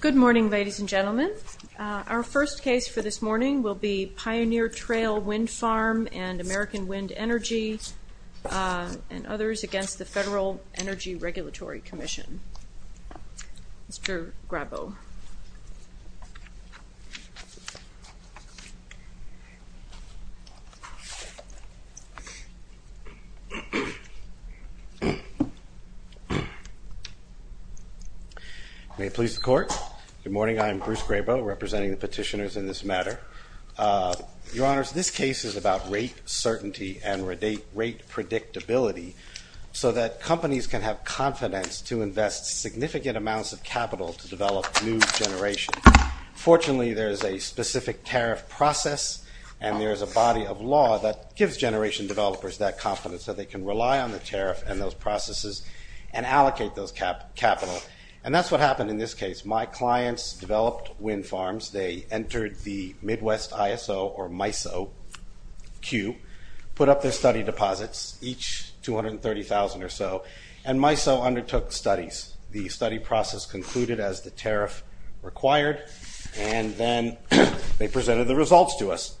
Good morning ladies and gentlemen. Our first case for this morning will be Pioneer Trail Wind Farm and American Wind Energy and others against the Federal Energy Regulatory Commission. Mr. Grabo. May it please the Court. Good morning, I'm Bruce Grabo representing the petitioners in this matter. Your Honors, this case is about rate certainty and rate predictability so that companies can have confidence to invest significant amounts of capital to develop new generations. Fortunately, there is a specific tariff process and there is a body of law that gives generation developers that confidence so they can rely on the tariff and those processes and allocate those capital. And that's what happened in this case. My clients developed wind farms, they entered the Midwest ISO or MISO queue, put up their study deposits, each 230,000 or so, and MISO undertook studies. The study process concluded as the tariff required and then they presented the results to us.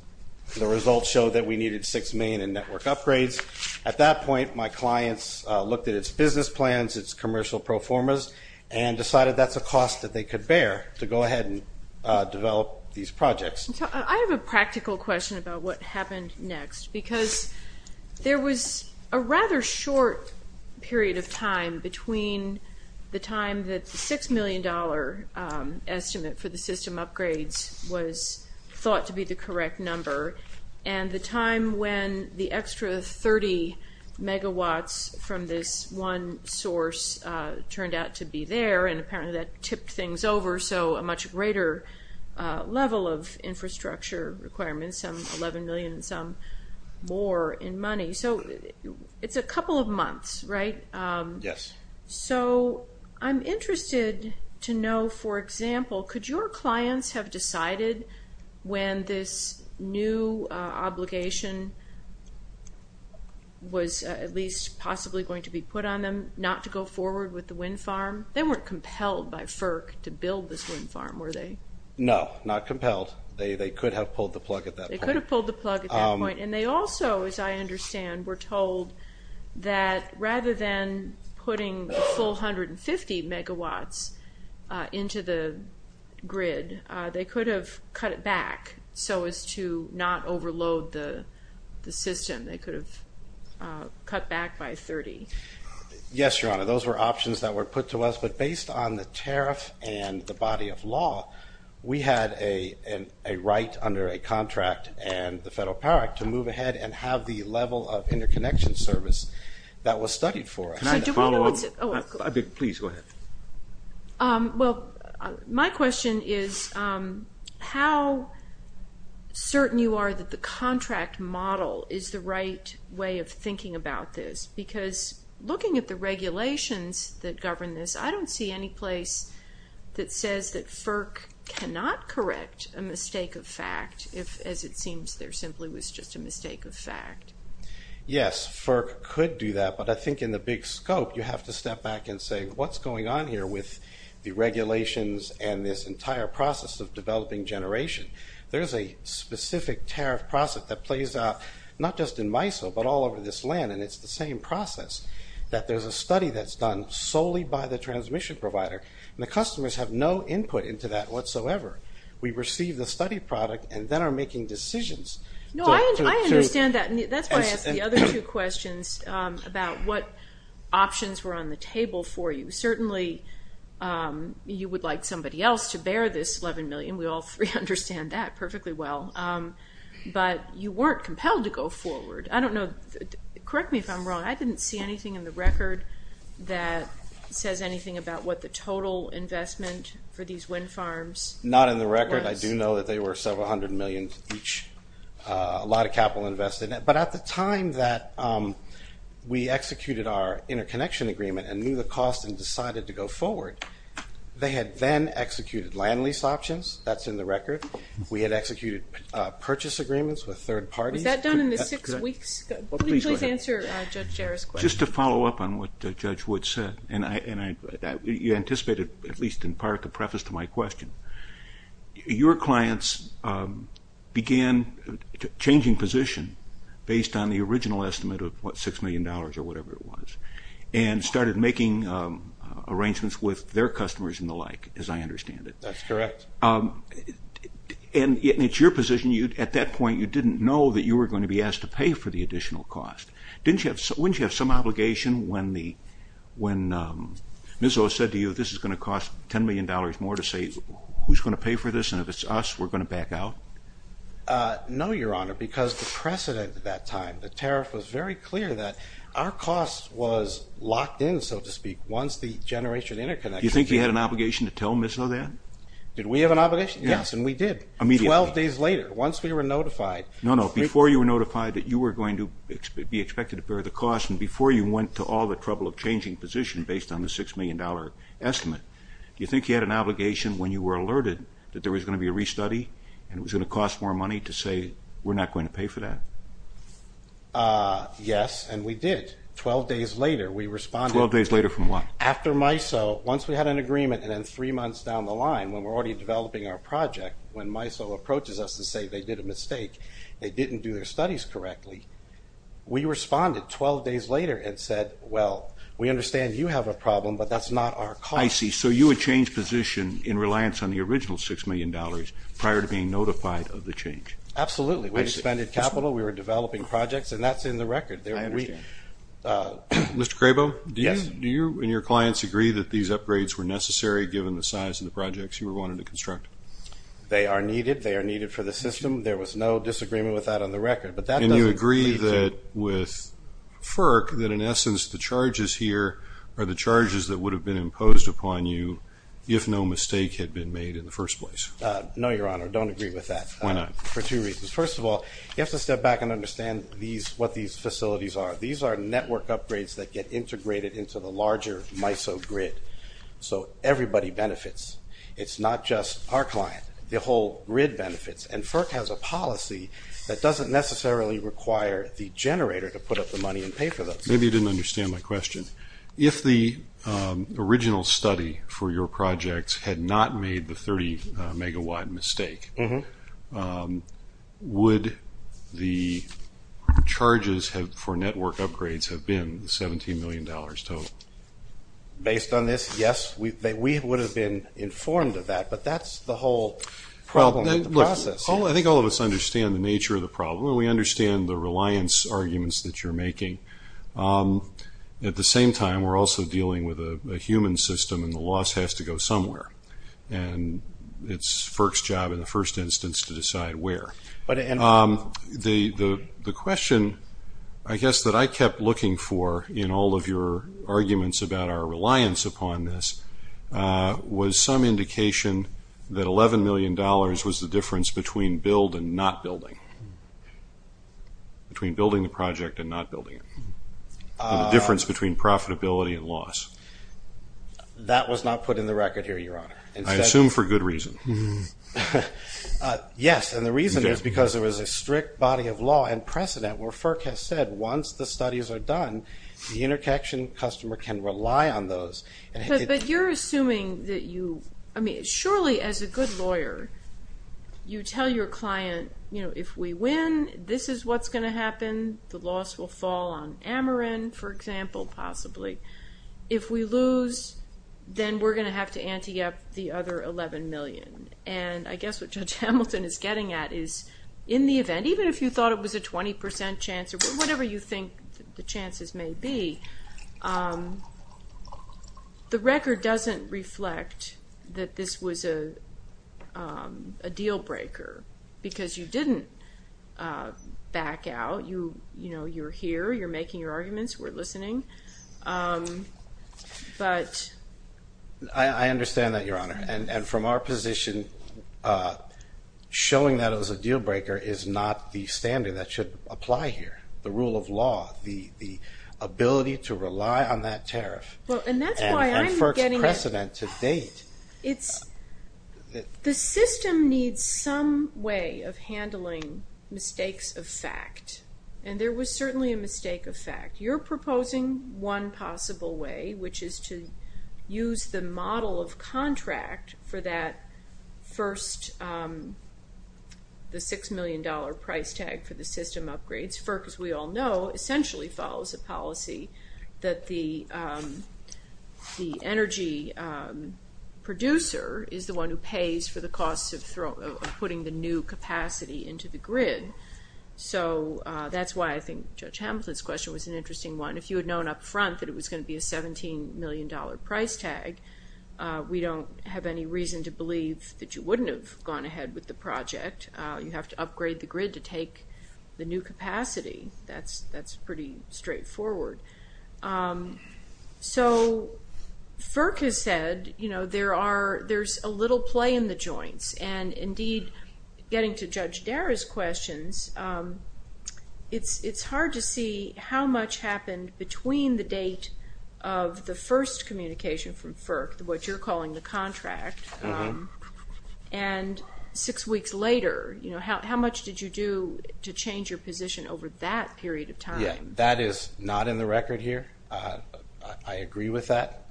The results showed that we needed six million in network upgrades. At that point, my clients looked at its business plans, its commercial pro formas, and decided that's a cost that they could bear to go ahead and develop these projects. I have a practical question about what happened next because there was a rather short period of time between the time that the six million dollar estimate for the system upgrades was thought to be the correct number and the time when the extra 30 megawatts from this one source turned out to be there and apparently that tipped things over so a much greater level of information was available. So it's a couple of months, right? Yes. So I'm interested to know, for example, could your clients have decided when this new obligation was at least possibly going to be put on them not to go forward with the wind farm? They weren't compelled by FERC to build this wind farm, were they? No, not compelled. They could have pulled the plug at that point. And they also, as I understand, were told that rather than putting the full 150 megawatts into the grid, they could have cut it back so as to not overload the system. They could have cut back by 30. Yes, Your Honor, those were options that were put to us, but based on the tariff and the body of law, we had a right under a contract and the Federal Power Act to move ahead and have the level of interconnection service that was studied for us. Can I follow up? Oh, of course. Please, go ahead. Well, my question is how certain you are that the contract model is the right way of thinking about this? Because looking at the regulations that govern this, I don't see any place that says that FERC cannot correct a mistake of fact if, as it seems, there simply was just a mistake of fact. Yes, FERC could do that, but I think in the big scope, you have to step back and say, what's going on here with the regulations and this entire process of developing generation? There's a specific tariff process that plays out, not just in MISO, but all over this land, and it's the same process, that there's a study that's done solely by the transmission provider, and the customers have no input into that whatsoever. We receive the study product and then are making decisions. No, I understand that, and that's why I asked the other two questions about what options were on the table for you. Certainly, you would like somebody else to bear this $11 million. We all three understand that perfectly well. But you weren't compelled to go forward. I don't know, correct me if I'm wrong, I didn't see anything in the record that says anything about what the total investment for these wind farms was. Not in the record. I do know that they were several hundred million each, a lot of capital invested. But at the time that we executed our interconnection agreement and knew the cost and decided to go forward, they had then executed land lease options. That's in the record. We had executed purchase agreements with third parties. Was that done in the six weeks? Please answer Judge Jarrett's question. Just to follow up on what Judge Wood said, and you anticipated, at least in part, the preface to my question. Your clients began changing position based on the original estimate of what, $6 million or whatever it was, and started making arrangements with their customers and the like, as I understand it. That's correct. And it's your position, at that point you didn't know that you were going to be asked to pay for the additional cost. Didn't you have, wouldn't you have some obligation when the, when MISO said to you this is going to cost $10 million more to say who's going to pay for this and if it's us we're going to back out? No, Your Honor, because the precedent at that time, the tariff was very clear that our cost was locked in, so to speak, once the generation interconnection... Do you think you had an obligation to tell MISO that? Did we have an obligation? Yes, and we did. Immediately. Twelve days later, once we were notified... No, no, before you were notified that you were going to be expected to bear the cost and before you went to all the trouble of changing position based on the $6 million estimate, do you think you had an obligation when you were alerted that there was going to be a restudy and it was going to cost more money to say we're not going to pay for that? Yes, and we did. Twelve days later, we responded... Twelve days later from what? After MISO, once we had an agreement and then three months down the line, when we're already developing our project, when MISO approaches us to say they did a mistake, they didn't do their studies correctly, we responded twelve days later and said, well, we understand you have a problem, but that's not our cost. I see, so you had changed position in reliance on the original $6 million prior to being notified of the change. Absolutely. We expended capital, we were developing projects, and that's in the record. I understand. Mr. Crabo, do you and your clients agree that these upgrades were necessary given the size of the projects you were wanting to construct? They are needed. They are needed for the system. There was no disagreement with that on the record, but that doesn't... And you agree that with FERC, that in essence, the charges here are the charges that would have been imposed upon you if no mistake had been made in the first place? No, Your Honor, I don't agree with that. Why not? For two reasons. First of all, you have to step back and understand what these facilities are. These are network upgrades that get integrated into the larger MISO grid, so everybody benefits. It's not just our client. The whole grid benefits, and FERC has a policy that doesn't necessarily require the generator to put up the money and pay for those. Maybe you didn't understand my question. If the original study for your projects had not made the 30 megawatt mistake, would the charges for network upgrades have been $17 million total? Based on this, yes, we would have been informed of that, but that's the whole problem of the process. I think all of us understand the nature of the problem, and we understand the reliance arguments that you're making. At the same time, we're also dealing with a human system, and the loss has to go somewhere, and it's FERC's job in the first instance to decide where. The question, I guess, that I kept looking for in all of your arguments about our reliance upon this was some indication that $11 million was the difference between build and not building, between building the project and not building it, the difference between profitability and loss. That was not put in the record here, Your Honor. I assume for good reason. Yes, and the reason is because there was a strict body of law and precedent where FERC has said once the studies are done, the interconnection customer can rely on those. But you're assuming that you, I mean, surely as a good lawyer, you tell your client, you know, if we win, this is what's going to happen, the loss will fall on Ameren, for example, possibly. If we lose, then we're going to have to ante up the other $11 million, and I guess what Judge Hamilton is getting at is in the event, even if you thought it was a 20% chance or whatever you think the chances may be, the record doesn't reflect that this was a deal breaker because you didn't back out. You know, you're here, you're making your arguments, we're listening, but... I understand that, Your Honor, and from our position, showing that it was a deal breaker is not the standard that should apply here. The rule of law, the ability to rely on that tariff... Well, and that's why I'm getting... And FERC's precedent to date... The system needs some way of handling mistakes of fact, and there was certainly a mistake of fact. You're proposing one possible way, which is to use the model of contract for that first, the $6 million price tag for the system upgrades. FERC, as we all know, essentially follows a policy that the energy producer is the one who pays for the costs of putting the new capacity into the grid. So that's why I think Judge Hamilton's question was an interesting one. If you had known up front that it was going to be a $17 million price tag, we don't have any reason to believe that you wouldn't have gone ahead with the project. You have to upgrade the grid to take the new capacity. That's pretty straightforward. So FERC has said there's a little play in the joints. And indeed, getting to Judge Dara's questions, it's hard to see how much happened between the date of the first communication from FERC, what you're calling the contract, and six weeks later. How much did you do to change your position over that period of time? That is not in the record here. I agree with that.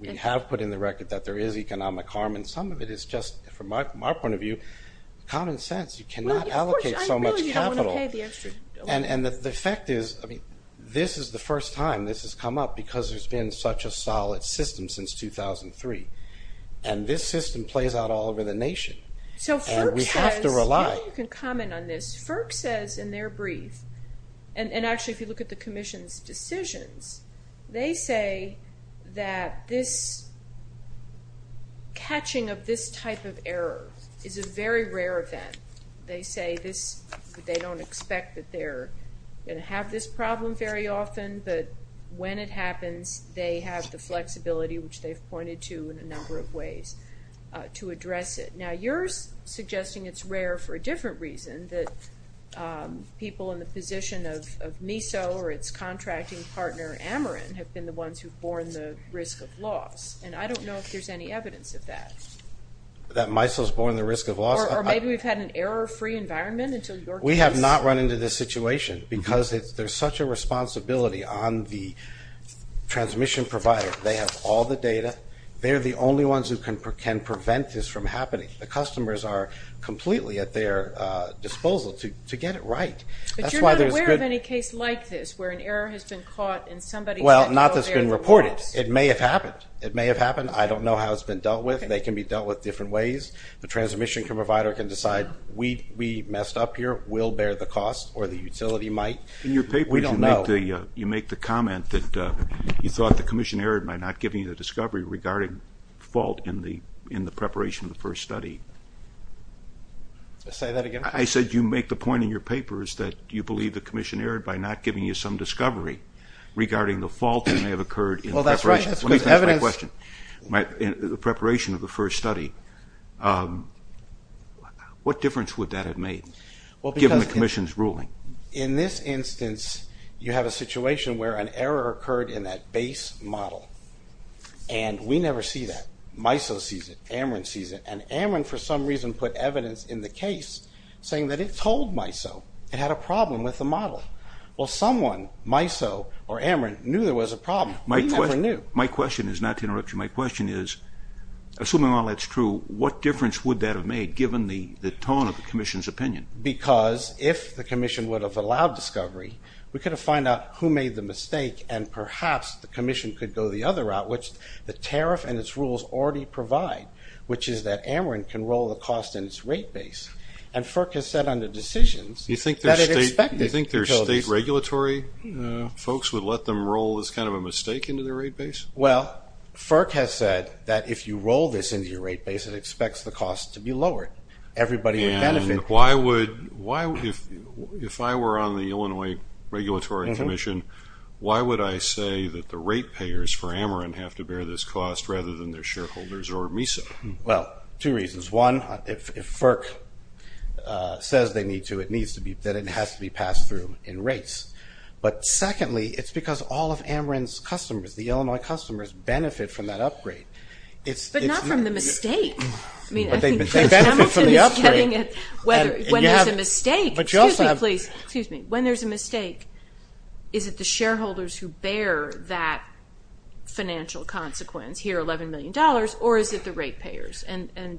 We have put in the record that there is economic harm. And some of it is just, from our point of view, common sense. You cannot allocate so much capital. And the fact is, I mean, this is the first time this has come up because there's been such a solid system since 2003. And this system plays out all over the nation. And we have to rely. So FERC says, maybe you can comment on this. FERC says in their brief, and actually if you look at the Commission's decisions, they say that this catching of this type of error is a very rare event. They say they don't expect that they're going to have this problem very often. But when it happens, they have the flexibility, which they've pointed to in a number of ways, to address it. Now, you're suggesting it's rare for a different reason, that people in the position of MISO or its contracting partner, Ameren, have been the ones who have borne the risk of loss. And I don't know if there's any evidence of that. That MISO has borne the risk of loss? Or maybe we've had an error-free environment until your case? We have not run into this situation because there's such a responsibility on the transmission provider. They have all the data. They're the only ones who can prevent this from happening. The customers are completely at their disposal to get it right. But you're not aware of any case like this where an error has been caught and somebody said, well, there's a loss. Well, not that it's been reported. It may have happened. It may have happened. I don't know how it's been dealt with. They can be dealt with different ways. The transmission provider can decide, we messed up here. We'll bear the cost. Or the utility might. We don't know. You make the comment that you thought the commission erred by not giving you the discovery regarding fault in the preparation of the first study. Say that again. I said you make the point in your papers that you believe the commission erred by not giving you some discovery regarding the fault that may have occurred in preparation. Well, that's right. The preparation of the first study. What difference would that have made, given the commission's ruling? In this instance, you have a situation where an error occurred in that base model. And we never see that. MISO sees it. AMRIN sees it. And AMRIN, for some reason, put evidence in the case saying that it told MISO it had a problem with the model. Well, someone, MISO or AMRIN, knew there was a problem. We never knew. My question is not to interrupt you. My question is, assuming all that's true, what difference would that have made, given the tone of the commission's opinion? Because if the commission would have allowed discovery, we could have found out who made the mistake and perhaps the commission could go the other route, which the tariff and its rules already provide, which is that AMRIN can roll the cost in its rate base. And FERC has said under decisions that it expected utilities. You think their state regulatory folks would let them roll this kind of a mistake into their rate base? Well, FERC has said that if you roll this into your rate base, it expects the cost to be lowered. Everybody would benefit. And if I were on the Illinois Regulatory Commission, why would I say that the rate payers for AMRIN have to bear this cost rather than their shareholders or MISO? Well, two reasons. One, if FERC says they need to, it has to be passed through in rates. But secondly, it's because all of AMRIN's customers, the Illinois customers, benefit from that upgrade. But not from the mistake. They benefit from the upgrade. When there's a mistake, is it the shareholders who bear that financial consequence, here $11 million, or is it the rate payers? And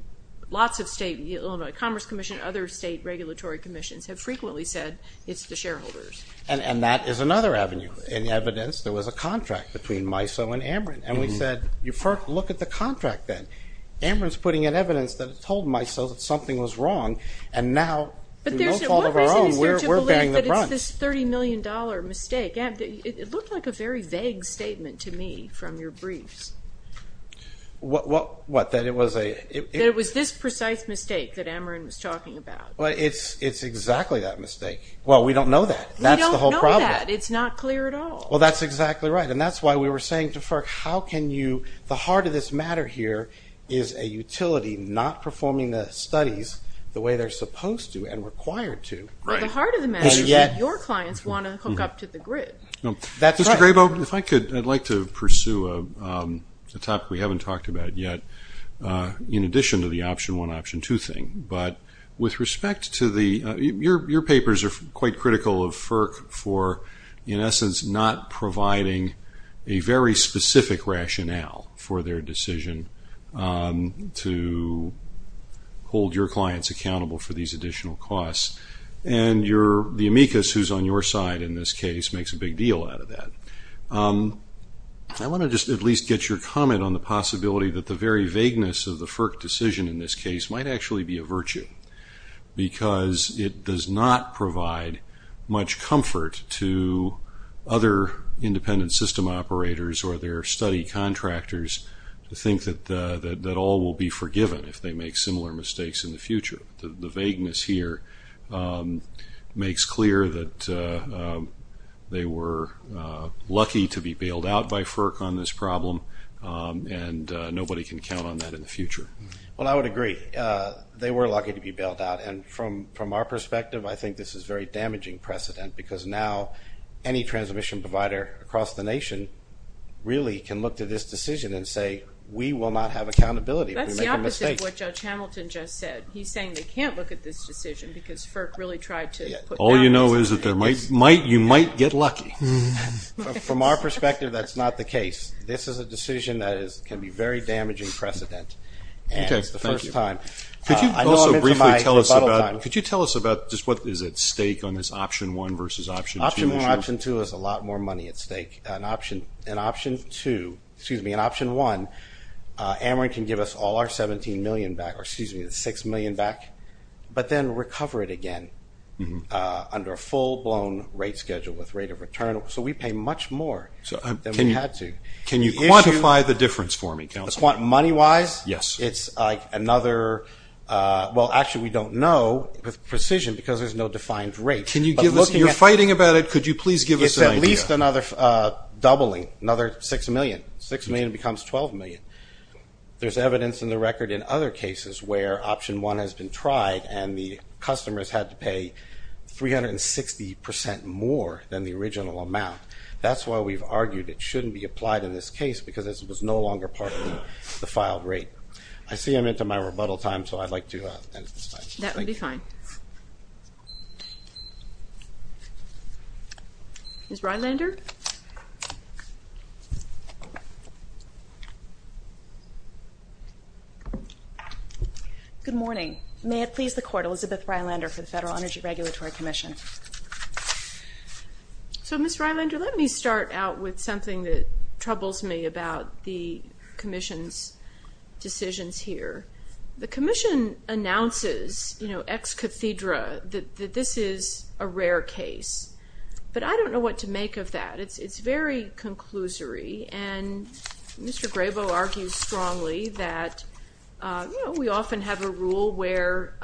lots of state Illinois Commerce Commission, other state regulatory commissions, have frequently said it's the shareholders. And that is another avenue. In evidence, there was a contract between MISO and AMRIN. And we said, look at the contract then. AMRIN's putting in evidence that it told MISO that something was wrong. And now, through no fault of our own, we're bearing the brunt. But what reason is there to believe that it's this $30 million mistake? It looked like a very vague statement to me from your briefs. What, that it was a? That it was this precise mistake that AMRIN was talking about. Well, it's exactly that mistake. Well, we don't know that. We don't know that. That's the whole problem. It's not clear at all. Well, that's exactly right. And that's why we were saying to FERC, how can you, the heart of this matter here, is a utility not performing the studies the way they're supposed to and required to. Right. But the heart of the matter is that your clients want to hook up to the grid. That's right. Mr. Grabo, if I could, I'd like to pursue a topic we haven't talked about yet, in addition to the option one, option two thing. But with respect to the, your papers are quite critical of FERC for, in essence, not providing a very specific rationale for their decision to hold your clients accountable for these additional costs. And the amicus who's on your side in this case makes a big deal out of that. I want to just at least get your comment on the possibility that the very vagueness of the FERC decision in this case might actually be a virtue, because it does not provide much comfort to other independent system operators or their study contractors to think that all will be forgiven if they make similar mistakes in the future. The vagueness here makes clear that they were lucky to be bailed out by FERC on this problem, and nobody can count on that in the future. Well, I would agree. They were lucky to be bailed out. And from our perspective, I think this is a very damaging precedent, because now any transmission provider across the nation really can look to this decision and say we will not have accountability if we make a mistake. That's the opposite of what Judge Hamilton just said. He's saying they can't look at this decision because FERC really tried to put down this decision. All you know is that you might get lucky. From our perspective, that's not the case. This is a decision that can be a very damaging precedent. Okay, thank you. And it's the first time. I know I'm into my rebuttal time. Could you also briefly tell us about just what is at stake on this Option 1 versus Option 2 issue? Option 1 and Option 2 is a lot more money at stake. In Option 1, Ameren can give us all our $6 million back, but then recover it again under a full-blown rate schedule with rate of return. So we pay much more than we had to. Can you quantify the difference for me, counsel? Money-wise, it's another – well, actually we don't know with precision because there's no defined rate. You're fighting about it. Could you please give us an idea? It's at least another doubling, another $6 million. $6 million becomes $12 million. There's evidence in the record in other cases where Option 1 has been tried and the customers had to pay 360% more than the original amount. That's why we've argued it shouldn't be applied in this case because it was no longer part of the filed rate. I see I'm into my rebuttal time, so I'd like to end at this time. That would be fine. Ms. Rylander? Good morning. May it please the Court, Elizabeth Rylander for the Federal Energy Regulatory Commission. So, Ms. Rylander, let me start out with something that troubles me about the Commission's decisions here. The Commission announces, you know, ex cathedra, that this is a rare case. But I don't know what to make of that. It's very conclusory, and Mr. Grabo argues strongly that, you know, we often have a rule where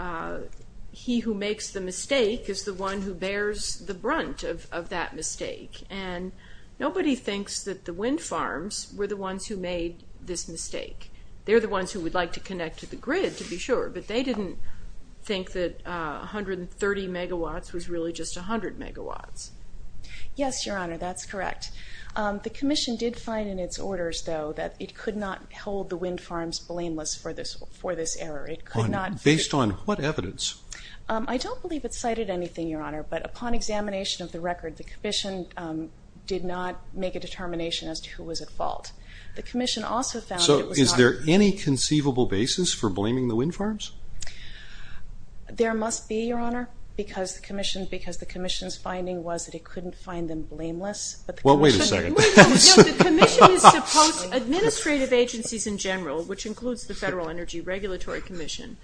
he who makes the mistake is the one who bears the brunt of that mistake, and nobody thinks that the wind farms were the ones who made this mistake. They're the ones who would like to connect to the grid, to be sure, but they didn't think that 130 megawatts was really just 100 megawatts. Yes, Your Honor, that's correct. The Commission did find in its orders, though, that it could not hold the wind farms blameless for this error. Based on what evidence? I don't believe it cited anything, Your Honor, but upon examination of the record, the Commission did not make a determination as to who was at fault. So is there any conceivable basis for blaming the wind farms? There must be, Your Honor, because the Commission's finding was that it couldn't find them blameless. Well, wait a second. No, the Commission is supposed to, administrative agencies in general, which includes the Federal Energy Regulatory Commission,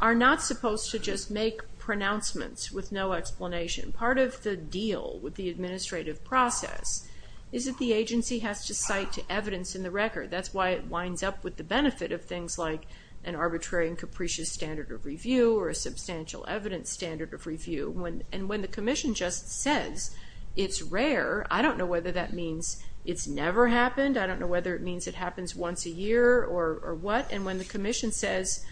are not supposed to just make pronouncements with no explanation. Part of the deal with the administrative process is that the agency has to cite to evidence in the record. That's why it winds up with the benefit of things like an arbitrary and capricious standard of review or a substantial evidence standard of review, and when the Commission just says it's rare, I don't know whether that means it's never happened. I don't know whether it means it happens once a year or what, and when the Commission says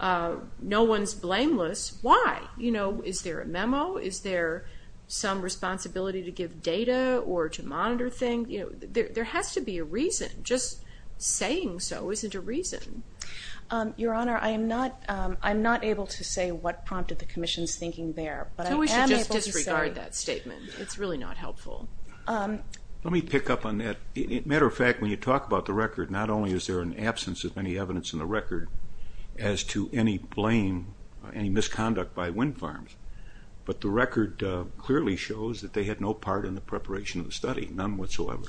no one's blameless, why? Is there a memo? Is there some responsibility to give data or to monitor things? There has to be a reason. Just saying so isn't a reason. Your Honor, I am not able to say what prompted the Commission's thinking there, so we should just disregard that statement. It's really not helpful. Let me pick up on that. Matter of fact, when you talk about the record, not only is there an absence of any evidence in the record as to any blame, any misconduct by wind farms, but the record clearly shows that they had no part in the preparation of the study, none whatsoever.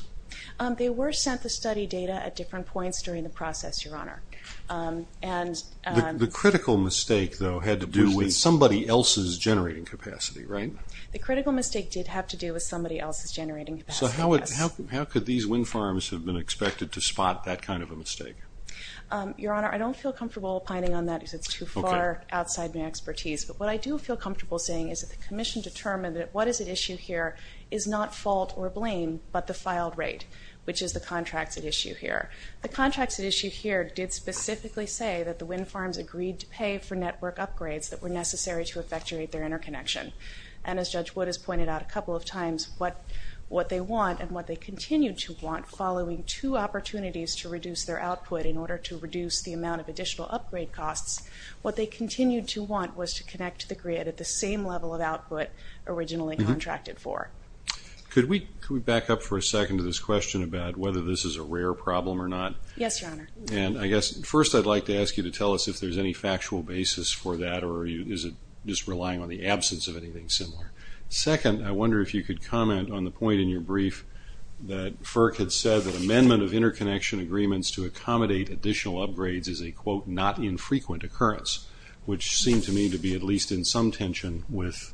They were sent the study data at different points during the process, Your Honor. The critical mistake, though, had to do with somebody else's generating capacity, right? The critical mistake did have to do with somebody else's generating capacity, yes. So how could these wind farms have been expected to spot that kind of a mistake? Your Honor, I don't feel comfortable pining on that because it's too far outside my expertise, but what I do feel comfortable saying is that the Commission determined that what is at issue here is not fault or blame but the filed rate, which is the contracts at issue here. The contracts at issue here did specifically say that the wind farms agreed to pay for network upgrades that were necessary to effectuate their interconnection. And as Judge Wood has pointed out a couple of times, what they want and what they continued to want following two opportunities to reduce their output in order to reduce the amount of additional upgrade costs, what they continued to want was to connect to the grid at the same level of output originally contracted for. Could we back up for a second to this question about whether this is a rare problem or not? Yes, Your Honor. And I guess first I'd like to ask you to tell us if there's any factual basis for that or is it just relying on the absence of anything similar? Second, I wonder if you could comment on the point in your brief that FERC had said that amendment of interconnection agreements to accommodate additional upgrades is a, quote, not infrequent occurrence, which seemed to me to be at least in some tension with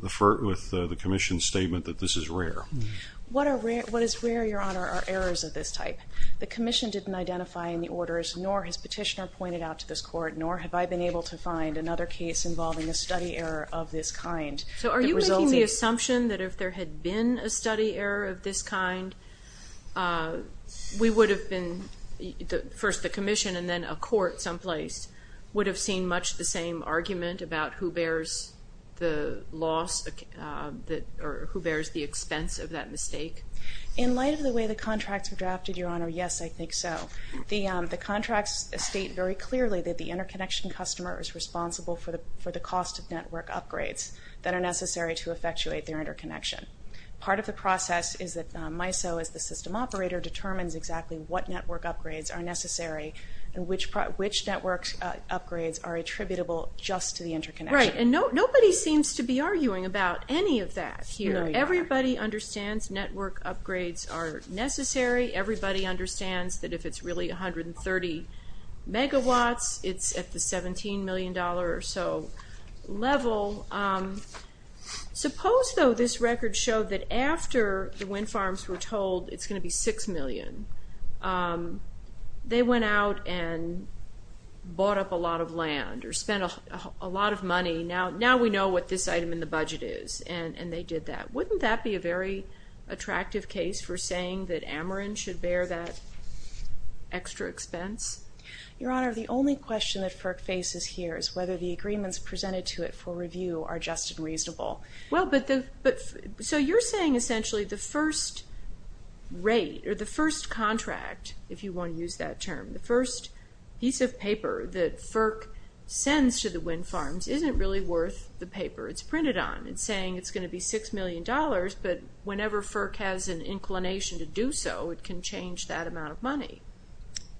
the Commission's statement that this is rare. What is rare, Your Honor, are errors of this type. The Commission didn't identify any orders, nor has Petitioner pointed out to this Court, nor have I been able to find another case involving a study error of this kind. So are you making the assumption that if there had been a study error of this kind, we would have been, first the Commission and then a court someplace, would have seen much the same argument about who bears the loss or who bears the expense of that mistake? In light of the way the contracts were drafted, Your Honor, yes, I think so. The contracts state very clearly that the interconnection customer is responsible for the cost of network upgrades that are necessary to effectuate their interconnection. Part of the process is that MISO, as the system operator, determines exactly what network upgrades are necessary and which network upgrades are attributable just to the interconnection. Right, and nobody seems to be arguing about any of that here. No, Your Honor. Everybody understands network upgrades are necessary. Everybody understands that if it's really 130 megawatts, it's at the $17 million or so level. Suppose, though, this record showed that after the wind farms were told it's going to be $6 million, they went out and bought up a lot of land or spent a lot of money. Now we know what this item in the budget is, and they did that. Wouldn't that be a very attractive case for saying that Ameren should bear that extra expense? Your Honor, the only question that FERC faces here is whether the agreements presented to it for review are just and reasonable. So you're saying essentially the first rate or the first contract, if you want to use that term, the first piece of paper that FERC sends to the wind farms isn't really worth the paper it's printed on. It's saying it's going to be $6 million, but whenever FERC has an inclination to do so, it can change that amount of money.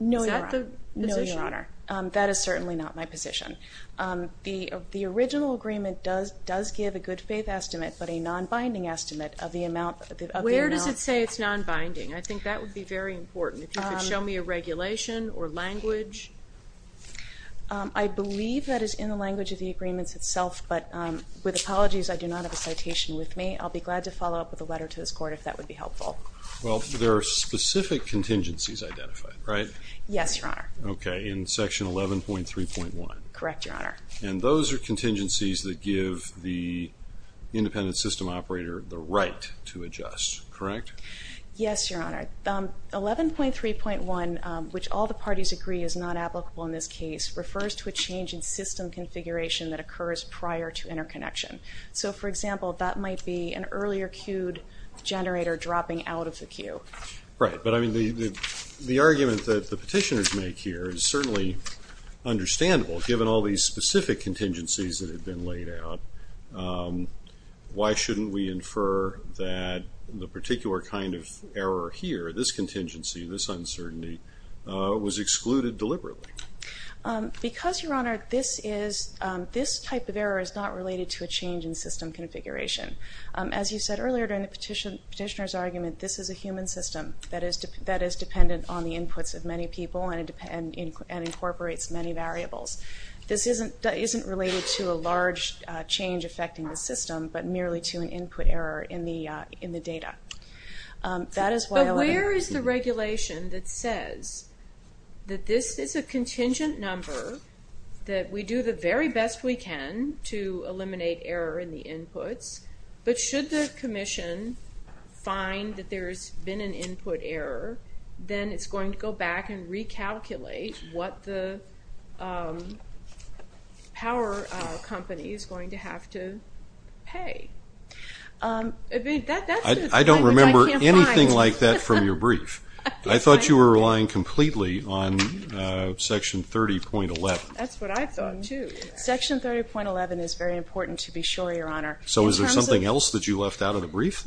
No, Your Honor. No, Your Honor. That is certainly not my position. The original agreement does give a good faith estimate, but a non-binding estimate of the amount. Where does it say it's non-binding? I think that would be very important. If you could show me a regulation or language. I believe that is in the language of the agreements itself, but with apologies, I do not have a citation with me. I'll be glad to follow up with a letter to this Court if that would be helpful. Well, there are specific contingencies identified, right? Yes, Your Honor. Okay, in Section 11.3.1. Correct, Your Honor. And those are contingencies that give the independent system operator the right to adjust, correct? Yes, Your Honor. 11.3.1, which all the parties agree is not applicable in this case, refers to a change in system configuration that occurs prior to interconnection. So, for example, that might be an earlier queued generator dropping out of the queue. Right. But, I mean, the argument that the petitioners make here is certainly understandable, given all these specific contingencies that have been laid out. Why shouldn't we infer that the particular kind of error here, this contingency, this uncertainty, was excluded deliberately? Because, Your Honor, this type of error is not related to a change in system configuration. As you said earlier during the petitioner's argument, this is a human system that is dependent on the inputs of many people and incorporates many variables. This isn't related to a large change affecting the system, but merely to an input error in the data. But where is the regulation that says that this is a contingent number, that we do the very best we can to eliminate error in the inputs, but should the commission find that there's been an input error, then it's going to go back and recalculate what the power company is going to have to pay. I don't remember anything like that from your brief. I thought you were relying completely on Section 30.11. That's what I thought, too. Section 30.11 is very important to be sure, Your Honor. So is there something else that you left out of the brief?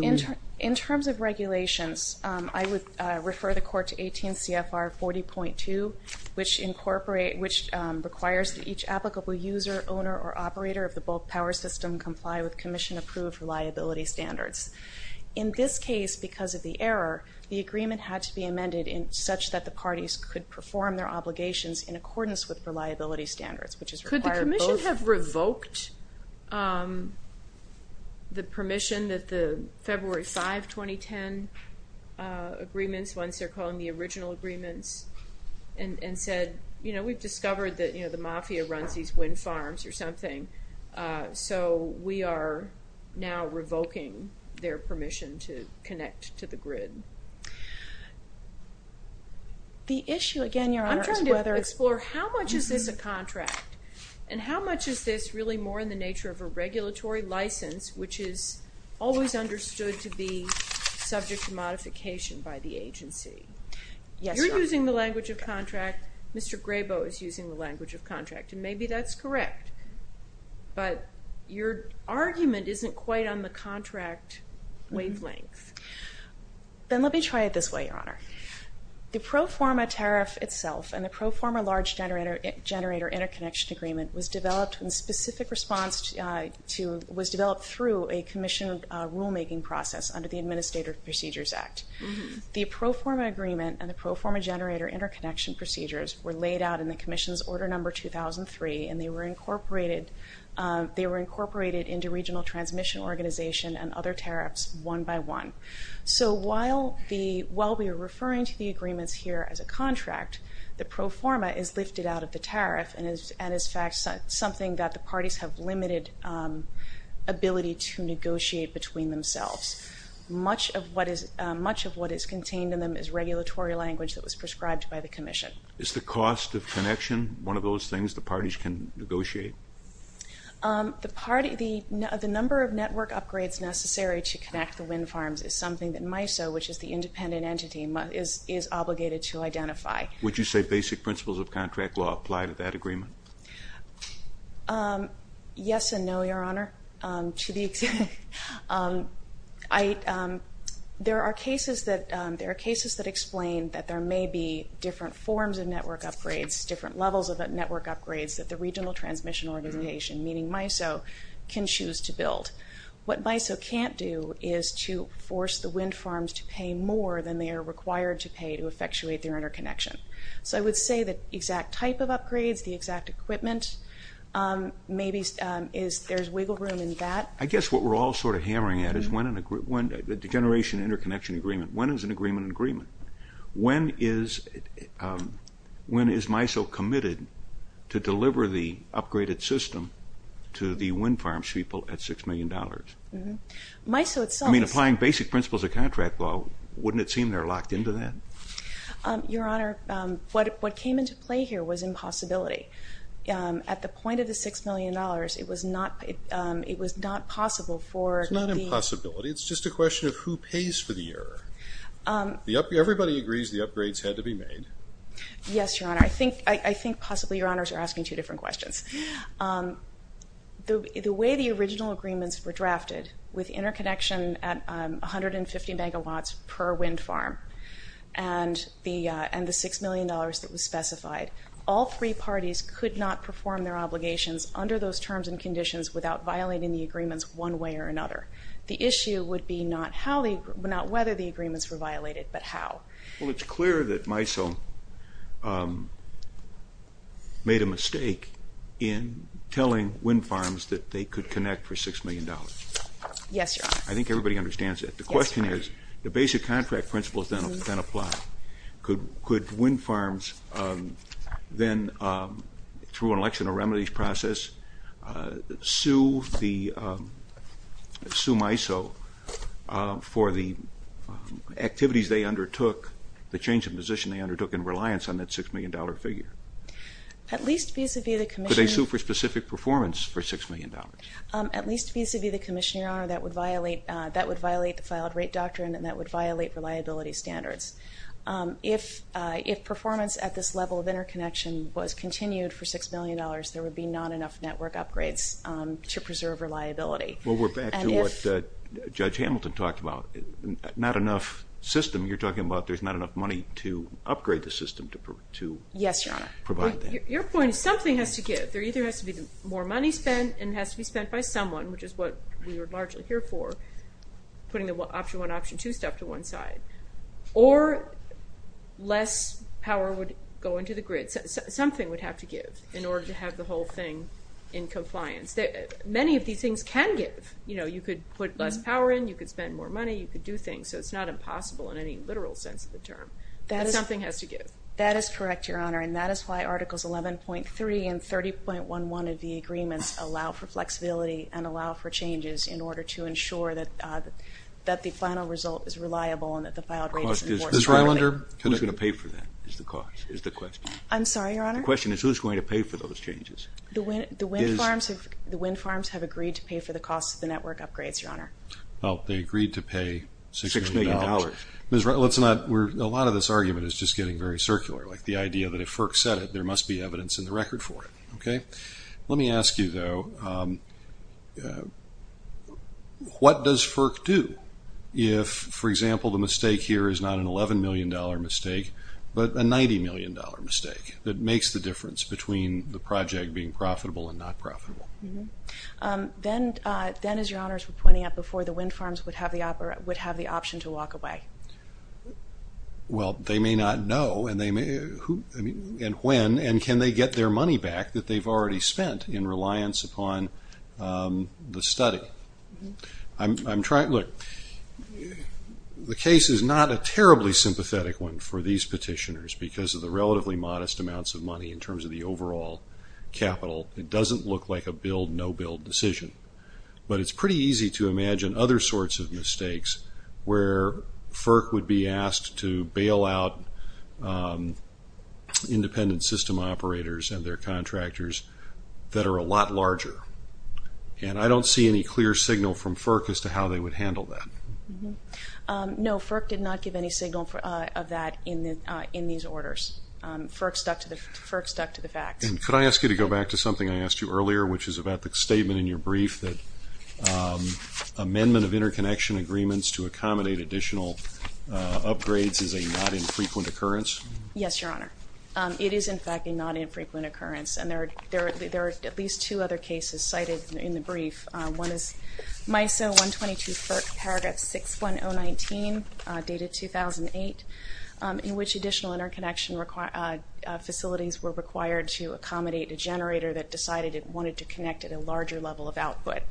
In terms of regulations, I would refer the Court to 18 CFR 40.2, which requires that each applicable user, owner, or operator of the bulk power system comply with commission-approved reliability standards. In this case, because of the error, the agreement had to be amended such that the parties could perform their obligations in accordance with reliability standards, which is required both. Could the commission have revoked the permission that the February 5, 2010 agreements, once they're calling the original agreements, and said, you know, we've discovered that the mafia runs these wind farms or something, so we are now revoking their permission to connect to the grid? The issue, again, Your Honor, is whether – I'm trying to explore how much is this a contract, and how much is this really more in the nature of a regulatory license, which is always understood to be subject to modification by the agency? Yes, Your Honor. If you're using the language of contract, Mr. Grabo is using the language of contract, and maybe that's correct, but your argument isn't quite on the contract wavelength. Then let me try it this way, Your Honor. The pro forma tariff itself and the pro forma large generator interconnection agreement was developed in specific response to – was developed through a commissioned rulemaking process under the Administrative Procedures Act. The pro forma agreement and the pro forma generator interconnection procedures were laid out in the commission's order number 2003, and they were incorporated into regional transmission organization and other tariffs one by one. So while we are referring to the agreements here as a contract, the pro forma is lifted out of the tariff and is in fact something that the parties have limited ability to negotiate between themselves. Much of what is contained in them is regulatory language that was prescribed by the commission. Is the cost of connection one of those things the parties can negotiate? The number of network upgrades necessary to connect the wind farms is something that MISO, which is the independent entity, is obligated to identify. Would you say basic principles of contract law apply to that agreement? Yes and no, Your Honor. To be exact, there are cases that explain that there may be different forms of network upgrades, different levels of network upgrades that the regional transmission organization, meaning MISO, can choose to build. What MISO can't do is to force the wind farms to pay more than they are required to pay to effectuate their interconnection. So I would say the exact type of upgrades, the exact equipment, maybe there's wiggle room in that. I guess what we're all sort of hammering at is the generation interconnection agreement. When is an agreement an agreement? When is MISO committed to deliver the upgraded system to the wind farms people at $6 million? I mean, applying basic principles of contract law, wouldn't it seem they're locked into that? Your Honor, what came into play here was impossibility. At the point of the $6 million, it was not possible for the- It's not impossibility. It's just a question of who pays for the error. Everybody agrees the upgrades had to be made. Yes, Your Honor. I think possibly Your Honors are asking two different questions. The way the original agreements were drafted with interconnection at 150 megawatts per wind farm and the $6 million that was specified, all three parties could not perform their obligations under those terms and conditions without violating the agreements one way or another. The issue would be not whether the agreements were violated, but how. Well, it's clear that MISO made a mistake in telling wind farms that they could connect for $6 million. Yes, Your Honor. I think everybody understands that. Yes, Your Honor. The question is, the basic contract principles then apply. Could wind farms then, through an election or remedies process, sue MISO for the activities they undertook, the change of position they undertook in reliance on that $6 million figure? At least vis-a-vis the commission- Could they sue for specific performance for $6 million? At least vis-a-vis the commission, Your Honor. That would violate the filed rate doctrine and that would violate reliability standards. If performance at this level of interconnection was continued for $6 million, there would be not enough network upgrades to preserve reliability. Well, we're back to what Judge Hamilton talked about, not enough system. You're talking about there's not enough money to upgrade the system to provide that. Yes, Your Honor. Your point is something has to give. There either has to be more money spent and it has to be spent by someone, which is what we are largely here for, putting the option one, option two stuff to one side, or less power would go into the grid. Something would have to give in order to have the whole thing in compliance. Many of these things can give. You could put less power in, you could spend more money, you could do things, so it's not impossible in any literal sense of the term. But something has to give. That is correct, Your Honor, and that is why Articles 11.3 and 30.11 of the agreements allow for flexibility and allow for changes in order to ensure that the final result is reliable and that the filed rate is enforced correctly. Ms. Rylander? Who's going to pay for that is the question? I'm sorry, Your Honor? The question is who's going to pay for those changes? The wind farms have agreed to pay for the cost of the network upgrades, Your Honor. Well, they agreed to pay $6 million. A lot of this argument is just getting very circular, like the idea that if FERC said it, there must be evidence in the record for it. Let me ask you, though, what does FERC do if, for example, the mistake here is not an $11 million mistake but a $90 million mistake that makes the difference between the project being profitable and not profitable? Then, as Your Honors were pointing out, the wind farms would have the option to walk away. Well, they may not know, and when, and can they get their money back that they've already spent in reliance upon the study? Look, the case is not a terribly sympathetic one for these petitioners because of the relatively modest amounts of money in terms of the overall capital. It doesn't look like a build-no-build decision, but it's pretty easy to imagine other sorts of mistakes where FERC would be asked to bail out independent system operators and their contractors that are a lot larger. And I don't see any clear signal from FERC as to how they would handle that. No, FERC did not give any signal of that in these orders. FERC stuck to the facts. And could I ask you to go back to something I asked you earlier, which is about the statement in your brief that amendment of interconnection agreements to accommodate additional upgrades is a not infrequent occurrence? Yes, Your Honor. It is, in fact, a not infrequent occurrence, and there are at least two other cases cited in the brief. One is MISO 122 FERC, paragraph 61019, dated 2008, in which additional interconnection facilities were required to accommodate a generator that decided it wanted to connect at a larger level of output.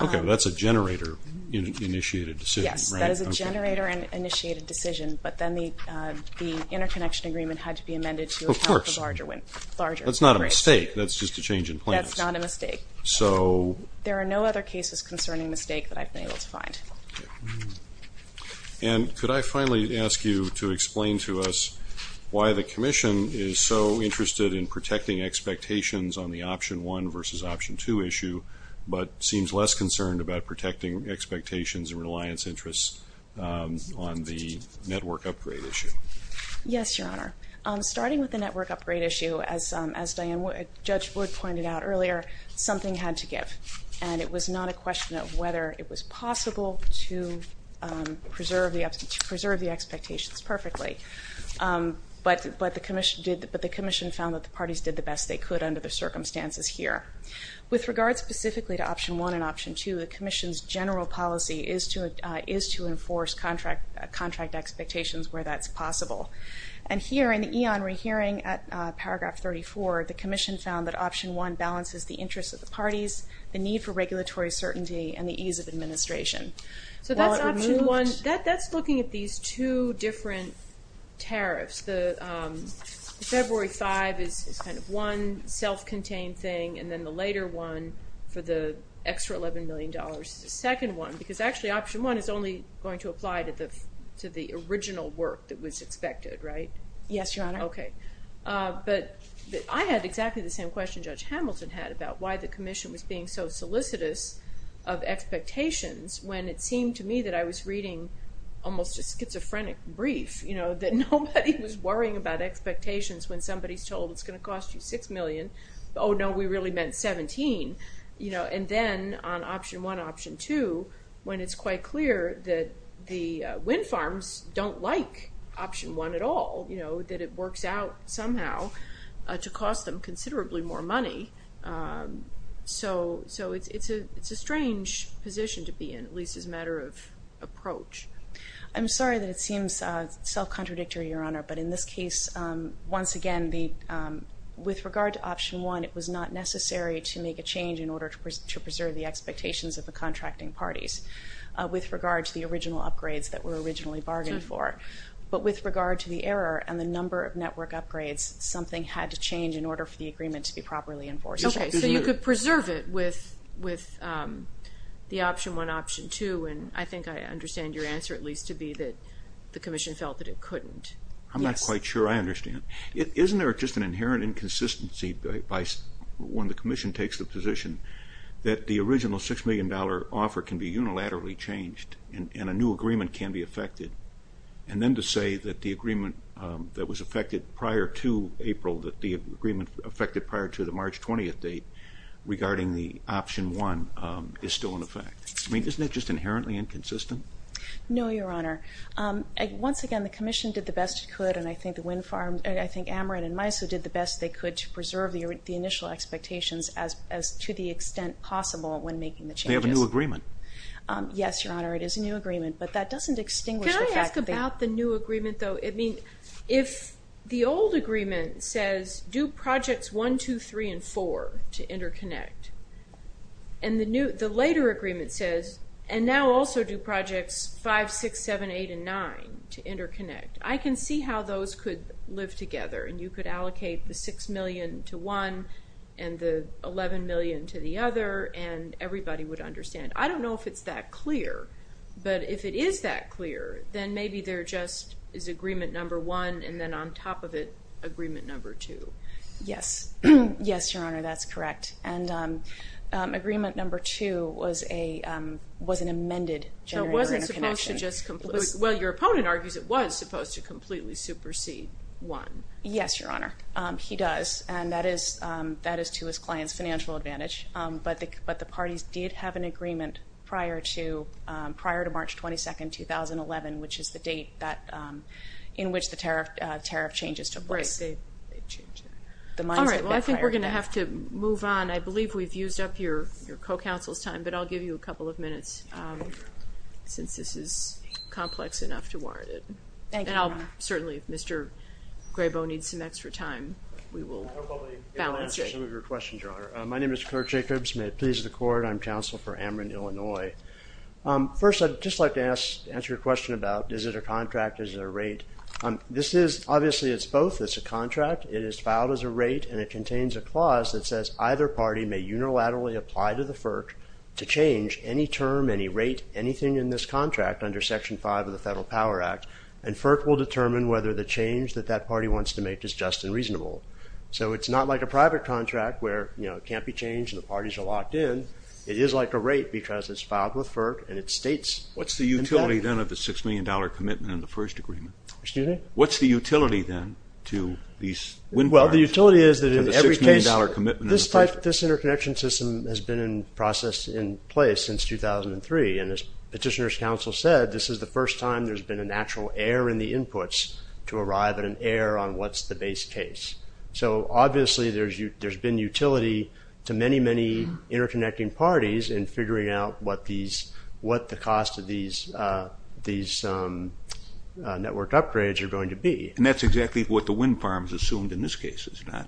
Okay, that's a generator-initiated decision, right? Yes, that is a generator-initiated decision, but then the interconnection agreement had to be amended to account for larger upgrades. That's not a mistake. That's just a change in plans. That's not a mistake. There are no other cases concerning mistake that I've been able to find. And could I finally ask you to explain to us why the Commission is so interested in protecting expectations on the Option 1 versus Option 2 issue but seems less concerned about protecting expectations and reliance interests on the network upgrade issue? Yes, Your Honor. Starting with the network upgrade issue, as Judge Wood pointed out earlier, something had to give, and it was not a question of whether it was possible to preserve the expectations perfectly. But the Commission found that the parties did the best they could under the circumstances here. With regard specifically to Option 1 and Option 2, the Commission's general policy is to enforce contract expectations where that's possible. And here in the eon re-hearing at paragraph 34, the Commission found that Option 1 balances the interests of the parties, So that's Option 1. That's looking at these two different tariffs. The February 5 is kind of one self-contained thing, and then the later one for the extra $11 million is the second one, because actually Option 1 is only going to apply to the original work that was expected, right? Yes, Your Honor. Okay. But I had exactly the same question Judge Hamilton had about why the Commission was being so solicitous of expectations when it seemed to me that I was reading almost a schizophrenic brief, you know, that nobody was worrying about expectations when somebody's told it's going to cost you $6 million. Oh, no, we really meant $17. You know, and then on Option 1, Option 2, when it's quite clear that the wind farms don't like Option 1 at all, you know, that it works out somehow to cost them considerably more money. So it's a strange position to be in, at least as a matter of approach. I'm sorry that it seems self-contradictory, Your Honor, but in this case, once again, with regard to Option 1, it was not necessary to make a change in order to preserve the expectations of the contracting parties with regard to the original upgrades that were originally bargained for. But with regard to the error and the number of network upgrades, something had to change in order for the agreement to be properly enforced. Okay, so you could preserve it with the Option 1, Option 2, and I think I understand your answer, at least, to be that the Commission felt that it couldn't. I'm not quite sure I understand. Isn't there just an inherent inconsistency when the Commission takes the position that the original $6 million offer can be unilaterally changed and a new agreement can be effected, and then to say that the agreement that was effected prior to April, that the agreement effected prior to the March 20th date, regarding the Option 1, is still in effect? I mean, isn't that just inherently inconsistent? No, Your Honor. Once again, the Commission did the best it could, and I think AMRIN and MISO did the best they could to preserve the initial expectations as to the extent possible when making the changes. They have a new agreement. Yes, Your Honor, it is a new agreement, but that doesn't extinguish the fact that... Can I ask about the new agreement, though? I mean, if the old agreement says, do Projects 1, 2, 3, and 4 to interconnect, and the later agreement says, and now also do Projects 5, 6, 7, 8, and 9 to interconnect, I can see how those could live together, and you could allocate the $6 million to one and the $11 million to the other, and everybody would understand. I don't know if it's that clear, but if it is that clear, then maybe there just is Agreement Number 1 and then on top of it Agreement Number 2. Yes. Yes, Your Honor, that's correct. And Agreement Number 2 was an amended generator interconnection. So it wasn't supposed to just completely... Well, your opponent argues it was supposed to completely supersede 1. Yes, Your Honor, he does, and that is to his client's financial advantage, but the parties did have an agreement prior to March 22, 2011, which is the date in which the tariff changes took place. Right. All right, well, I think we're going to have to move on. I believe we've used up your co-counsel's time, but I'll give you a couple of minutes since this is complex enough to warrant it. Thank you, Your Honor. And certainly if Mr. Grabo needs some extra time, we will balance it. I'll probably answer some of your questions, Your Honor. My name is Kirk Jacobs. May it please the Court. I'm counsel for Ameren, Illinois. First, I'd just like to answer your question about is it a contract, is it a rate. Obviously, it's both. It's a contract. It is filed as a rate, and it contains a clause that says either party may unilaterally apply to the FERC to change any term, any rate, anything in this contract under Section 5 of the Federal Power Act, and FERC will determine whether the change that that party wants to make is just and reasonable. So it's not like a private contract where it can't be changed and the parties are locked in. It is like a rate because it's filed with FERC and it states in that. What's the utility, then, of the $6 million commitment in the first agreement? Excuse me? What's the utility, then, to these wind farms? Well, the utility is that in every case... To the $6 million commitment in the first... This interconnection system has been in process, in place since 2003, and as Petitioner's Counsel said, this is the first time there's been a natural error in the inputs to arrive at an error on what's the base case. So, obviously, there's been utility to many, many interconnecting parties in figuring out what the cost of these network upgrades are going to be. And that's exactly what the wind farms assumed in this case, is it not?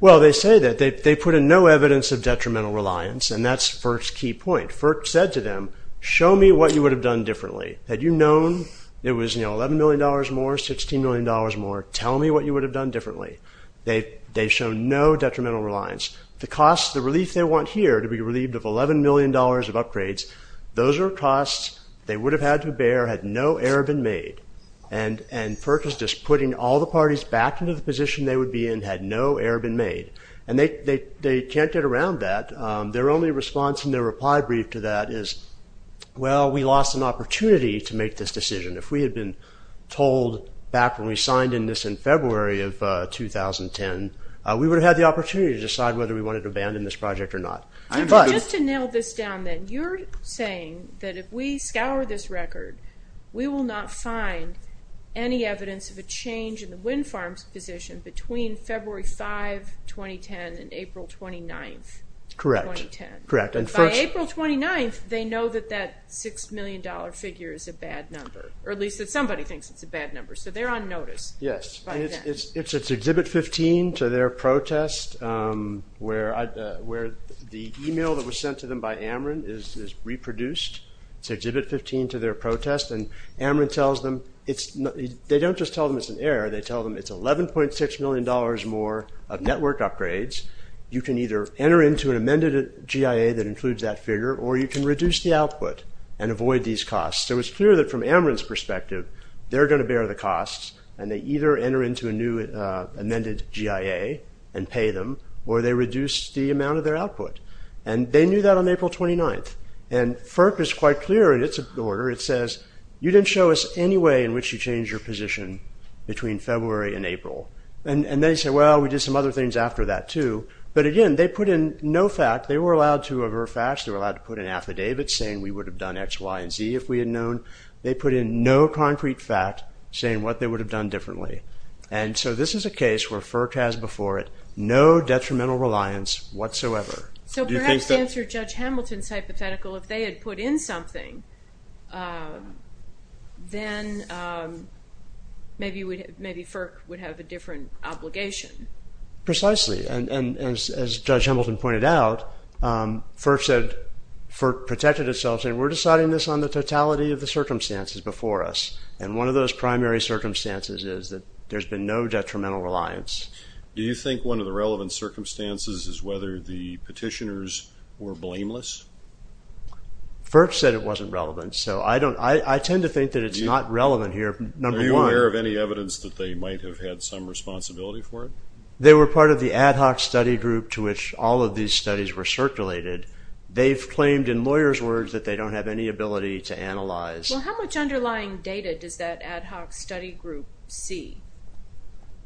Well, they say that. They put in no evidence of detrimental reliance, and that's FERC's key point. FERC said to them, show me what you would have done differently. Had you known it was, you know, $11 million more, $16 million more, tell me what you would have done differently. They've shown no detrimental reliance. The cost, the relief they want here to be relieved of $11 million of upgrades, those are costs they would have had to bear had no error been made. And FERC is just putting all the parties back into the position they would be in had no error been made. And they can't get around that. Their only response in their reply brief to that is, well, we lost an opportunity to make this decision. If we had been told back when we signed in this in February of 2010, we would have had the opportunity to decide whether we wanted to abandon this project or not. Just to nail this down then, you're saying that if we scour this record, we will not find any evidence of a change in the wind farms' position between February 5, 2010, and April 29, 2010. Correct. By April 29, they know that that $6 million figure is a bad number. Or at least that somebody thinks it's a bad number. So they're on notice. Yes. It's Exhibit 15 to their protest where the email that was sent to them by AMRIN is reproduced. It's Exhibit 15 to their protest. And AMRIN tells them, they don't just tell them it's an error, they tell them it's $11.6 million more of network upgrades. You can either enter into an amended GIA that includes that figure, or you can reduce the output and avoid these costs. So it's clear that from AMRIN's perspective, they're going to bear the costs, and they either enter into a new amended GIA and pay them, or they reduce the amount of their output. And they knew that on April 29. And FERC is quite clear in its order. It says, you didn't show us any way in which you changed your position between February and April. And they say, well, we did some other things after that too. But again, they put in no fact. They were allowed to aver facts. They were allowed to put in affidavits saying we would have done X, Y, and Z if we had known. They put in no concrete fact saying what they would have done differently. And so this is a case where FERC has before it no detrimental reliance whatsoever. So perhaps to answer Judge Hamilton's hypothetical, if they had put in something, then maybe FERC would have a different obligation. Precisely. And as Judge Hamilton pointed out, FERC protected itself saying we're deciding this on the totality of the circumstances before us. And one of those primary circumstances is that there's been no detrimental reliance. Do you think one of the relevant circumstances is whether the petitioners were blameless? FERC said it wasn't relevant. So I tend to think that it's not relevant here, number one. Are you aware of any evidence that they might have had some responsibility for it? They were part of the ad hoc study group to which all of these studies were circulated. They've claimed in lawyers' words that they don't have any ability to analyze. Well, how much underlying data does that ad hoc study group see?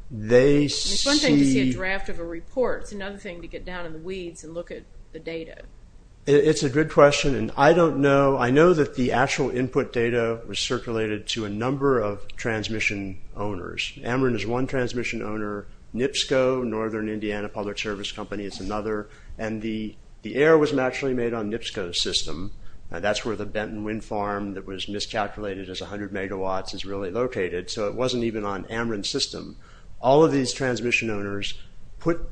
They see... It's one thing to see a draft of a report. It's another thing to get down in the weeds and look at the data. It's a good question, and I don't know. I know that the actual input data was circulated to a number of transmission owners. Ameren is one transmission owner. NIPSCO, Northern Indiana Public Service Company, is another. And the error was actually made on NIPSCO's system. That's where the Benton Wind Farm that was miscalculated as 100 megawatts is really located. So it wasn't even on Ameren's system. All of these transmission owners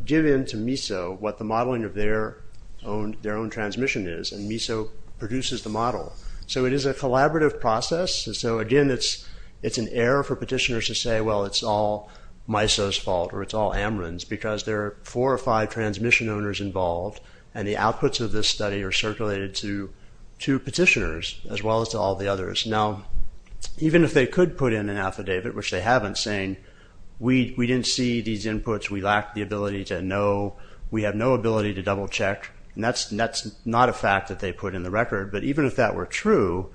give in to MISO what the modeling of their own transmission is, and MISO produces the model. So it is a collaborative process. So again, it's an error for petitioners to say, well, it's all MISO's fault or it's all Ameren's because there are four or five transmission owners involved and the outputs of this study are circulated to petitioners as well as to all the others. Now, even if they could put in an affidavit, which they haven't, saying we didn't see these inputs, we lacked the ability to know, we have no ability to double-check, that's not a fact that they put in the record. But even if that were true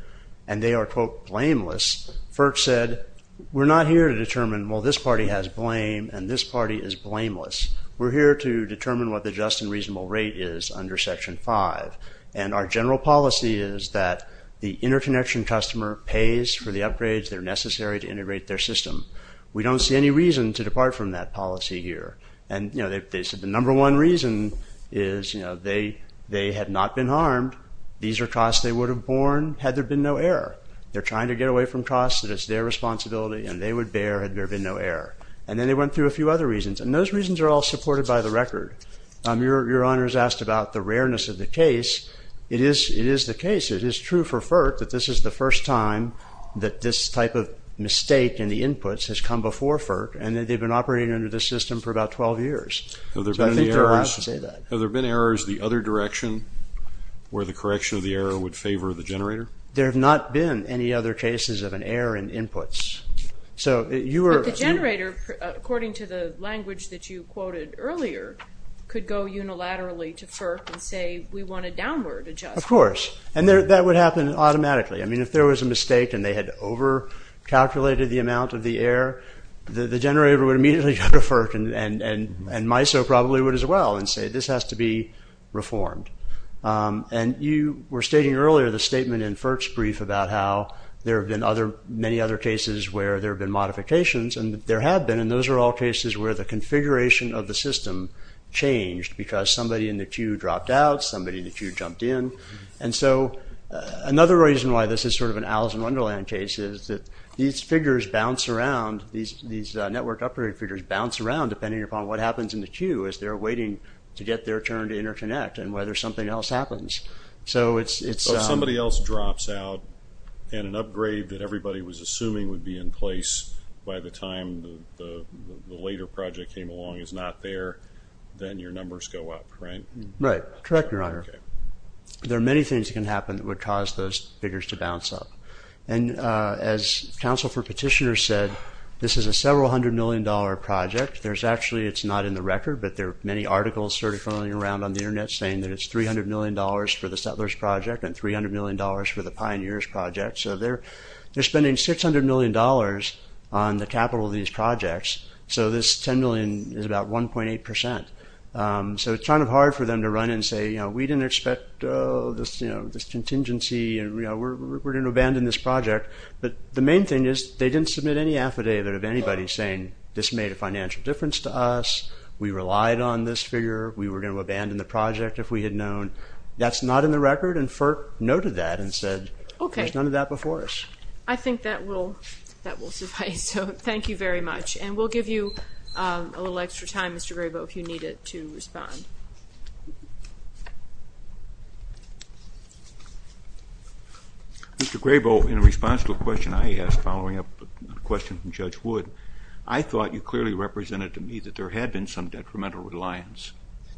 and they are, quote, blameless, FERC said, we're not here to determine, well, this party has blame and this party is blameless. We're here to determine what the just and reasonable rate is under Section 5. And our general policy is that the interconnection customer pays for the upgrades that are necessary to integrate their system. We don't see any reason to depart from that policy here. And, you know, they said the number one reason is, you know, they had not been harmed, these are costs they would have borne had there been no error. They're trying to get away from costs that it's their responsibility and they would bear had there been no error. And then they went through a few other reasons, and those reasons are all supported by the record. Your Honor has asked about the rareness of the case. It is the case, it is true for FERC that this is the first time that this type of mistake in the inputs has come before FERC and that they've been operating under this system for about 12 years. So I think they're allowed to say that. Have there been errors the other direction where the correction of the error would favor the generator? There have not been any other cases of an error in inputs. But the generator, according to the language that you quoted earlier, could go unilaterally to FERC and say, we want a downward adjustment. Of course. And that would happen automatically. I mean, if there was a mistake and they had over-calculated the amount of the error, the generator would immediately go to FERC and MISO probably would as well and say, this has to be reformed. And you were stating earlier the statement in FERC's brief about how there have been many other cases where there have been modifications, and there have been, and those are all cases where the configuration of the system changed because somebody in the queue dropped out, somebody in the queue jumped in. And so another reason why this is sort of an Alice in Wonderland case is that these figures bounce around, these networked operating figures bounce around depending upon what happens in the queue as they're waiting to get their turn to interconnect and whether something else happens. So it's... If somebody else drops out and an upgrade that everybody was assuming would be in place by the time the later project came along is not there, then your numbers go up, right? Right. Correct, Your Honor. Okay. There are many things that can happen that would cause those figures to bounce up. And as counsel for petitioners said, this is a several hundred million dollar project. There's actually, it's not in the round on the internet saying that it's 300 million dollars for the Settlers Project and 300 million dollars for the Pioneers Project. So they're spending 600 million dollars on the capital of these projects. So this 10 million is about 1.8 percent. So it's kind of hard for them to run and say, you know, we didn't expect this contingency and we're going to abandon this project. But the main thing is they didn't submit any affidavit of anybody saying this made a financial difference to us, we relied on this figure, we were going to abandon the project if we had known. That's not in the record and FERC noted that and said there's none of that before us. I think that will suffice. So thank you very much. And we'll give you a little extra time, Mr. Grabo, if you need it to respond. Mr. Grabo, in response to a question I asked following up a question from Judge Wood, I thought you clearly represented to me that there had been some detrimental reliance.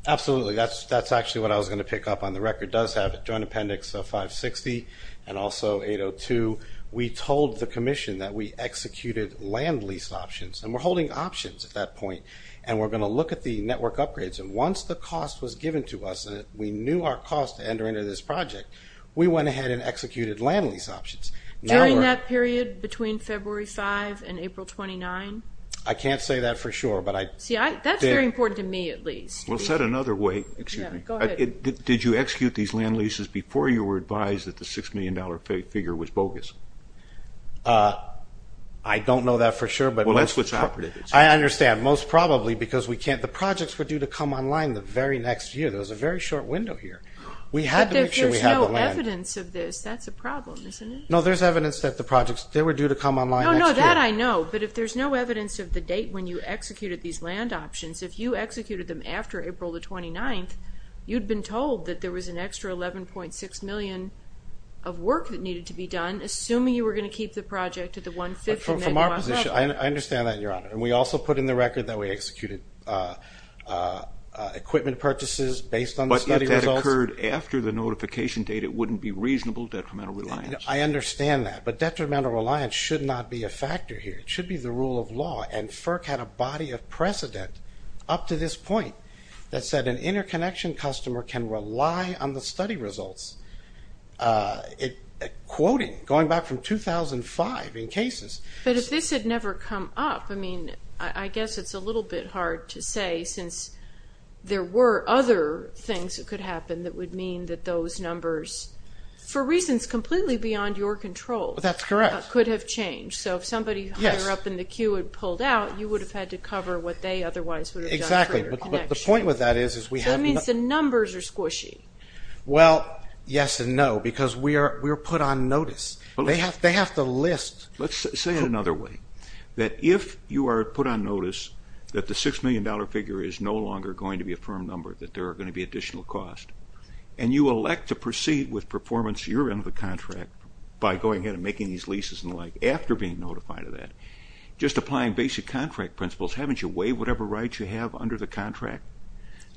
Absolutely. That's actually what I was going to pick up on. The record does have a joint appendix of 560 and also 802. We told the Commission that we executed land lease options and we're holding options at that point and we're going to look at the network upgrades. Once the cost was given to us and we knew our cost to enter into this project, we went ahead and executed land lease options. During that period between February 5 and April 29? I can't say that for sure. That's very important to me at least. Well, said another way, did you execute these land leases before you were advised that the $6 million figure was bogus? I don't know that for sure. Well, that's what's operative. I understand. Most probably because the projects were due to come online the very next year. There was a very short window here. But there's no evidence of this. That's a problem, isn't it? No, there's evidence that the projects they were due to come online next year. No, no, that I know. But if there's no evidence of the date when you executed these land options, if you executed them after April 29, you'd been told that there was an extra $11.6 million of work that needed to be done, assuming you were going to keep the project at the 1-5th and then you lost out. From our position, I understand that, Your Honor. And we also put in the record that we executed equipment purchases based on the study results. But that occurred after the notification date. It wouldn't be reasonable detrimental reliance. I understand that. But detrimental reliance should not be a factor here. It should be the rule of law. And FERC had a body of precedent up to this point that said an interconnection customer can rely on the study results. Quoting going back from 2005 in cases. But if this had never come up, I mean I guess it's a little bit hard to say since there were other things that could happen that would mean that those numbers for reasons completely beyond your control could have changed. So if somebody higher up in the queue had pulled out, you would have had to cover what they otherwise would have done for your connection. But the point with that is the numbers are squishy. Well, yes and no. Because we are put on notice. They have to list. Let's say it another way. That if you are put on notice that the $6 million figure is no longer going to be a firm number, that there are going to be additional cost, and you elect to proceed with performance year end of the contract by going ahead and making these leases and the like after being notified of that, just applying basic contract principles. Haven't you waived whatever rights you have under the contract?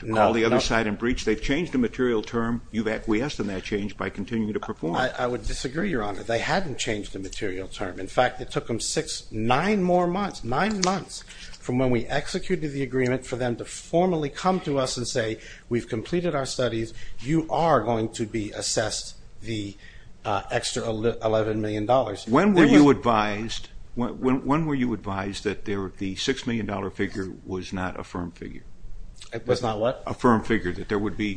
No. To call the other side and breach. They've changed the material term. You've acquiesced in that change by continuing to perform. I would disagree, Your Honor. They hadn't changed the material term. In fact, it took them six, nine more months, nine months from when we executed the agreement for them to formally come to us and say, we've completed our studies. You are going to be assessed the extra $11 million. When were you advised that the $6 million figure was not a firm figure? It was not what? A firm figure.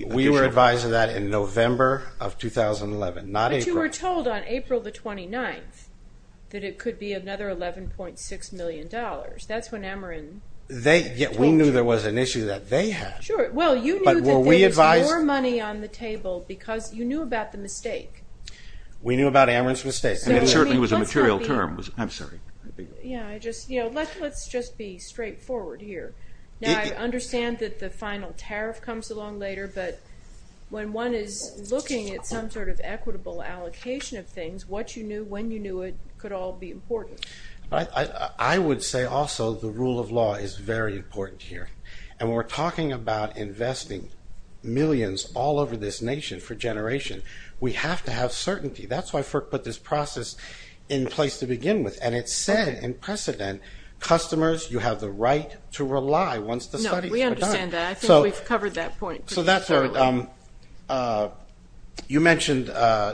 We were advised of that in November of 2011, not April. But you were told on April the 29th that it could be another $11.6 million. That's when Ameren... We knew there was an issue that they had. You knew there was more money on the table because you knew about the mistake. We knew about Ameren's mistake. It certainly was a material term. Let's just be straightforward here. I understand that the final tariff comes along later, but when one is looking at some sort of equitable allocation of things, what you knew, when you knew it, could all be important. I would say also the rule of law is very important here. And when we're talking about investing millions all over this nation for generations, we have to have certainty. That's why FERC put this process in place to begin with. And it said in precedent customers, you have the right to rely once the studies are done. No, we understand that. I think we've covered that point pretty thoroughly. You mentioned,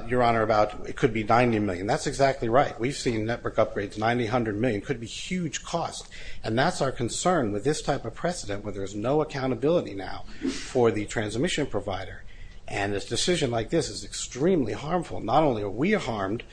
Your Honor, about it could be $90 million. That's exactly right. We've seen network upgrades, $90 million, could be huge costs. And that's our concern with this type of precedent where there's no accountability now for the transmission provider. And a decision like this is extremely harmful. Not only are we harmed,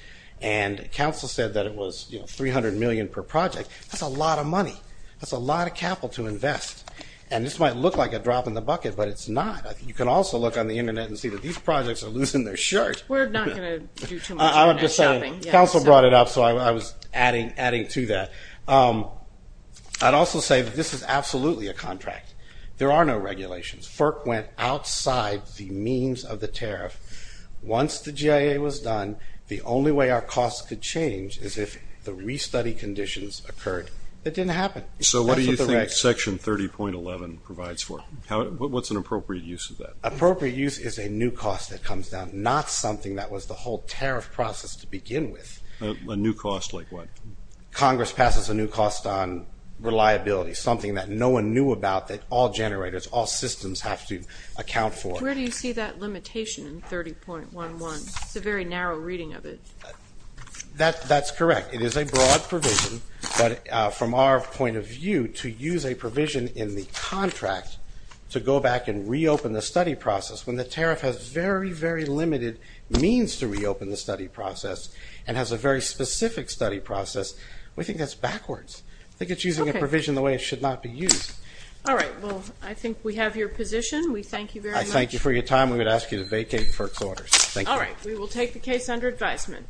and counsel said that it was $300 million per project. That's a lot of money. That's a lot of capital to invest. And this might look like a drop in the bucket, but it's not. You can also look on the internet and see that these projects are losing their shirt. We're not going to do too much internet shopping. Counsel brought it up, so I was adding to that. I'd also say that this is absolutely a contract. There are no regulations. FERC went outside the means of the tariff. Once the GIA was done, the only way our costs could change is if the restudy conditions occurred. It didn't happen. So what do you think Section 30.11 provides for? What's an appropriate use of that? Appropriate use is a new cost that comes down, not something that was the whole tariff process to begin with. A new cost like what? Congress passes a new cost on reliability, something that no one knew about that all generators, all systems have to account for. Where do you see that limitation in 30.11? It's a very narrow reading of it. That's correct. It is a broad provision, but from our point of view, to use a provision in the contract to go back and say the tariff has very, very limited means to reopen the study process and has a very specific study process, we think that's backwards. I think it's using a provision the way it should not be used. Alright, well, I think we have your position. We thank you very much. I thank you for your time. We would ask you to vacate FERC's orders. Thank you. Alright, we will take the case under advisement.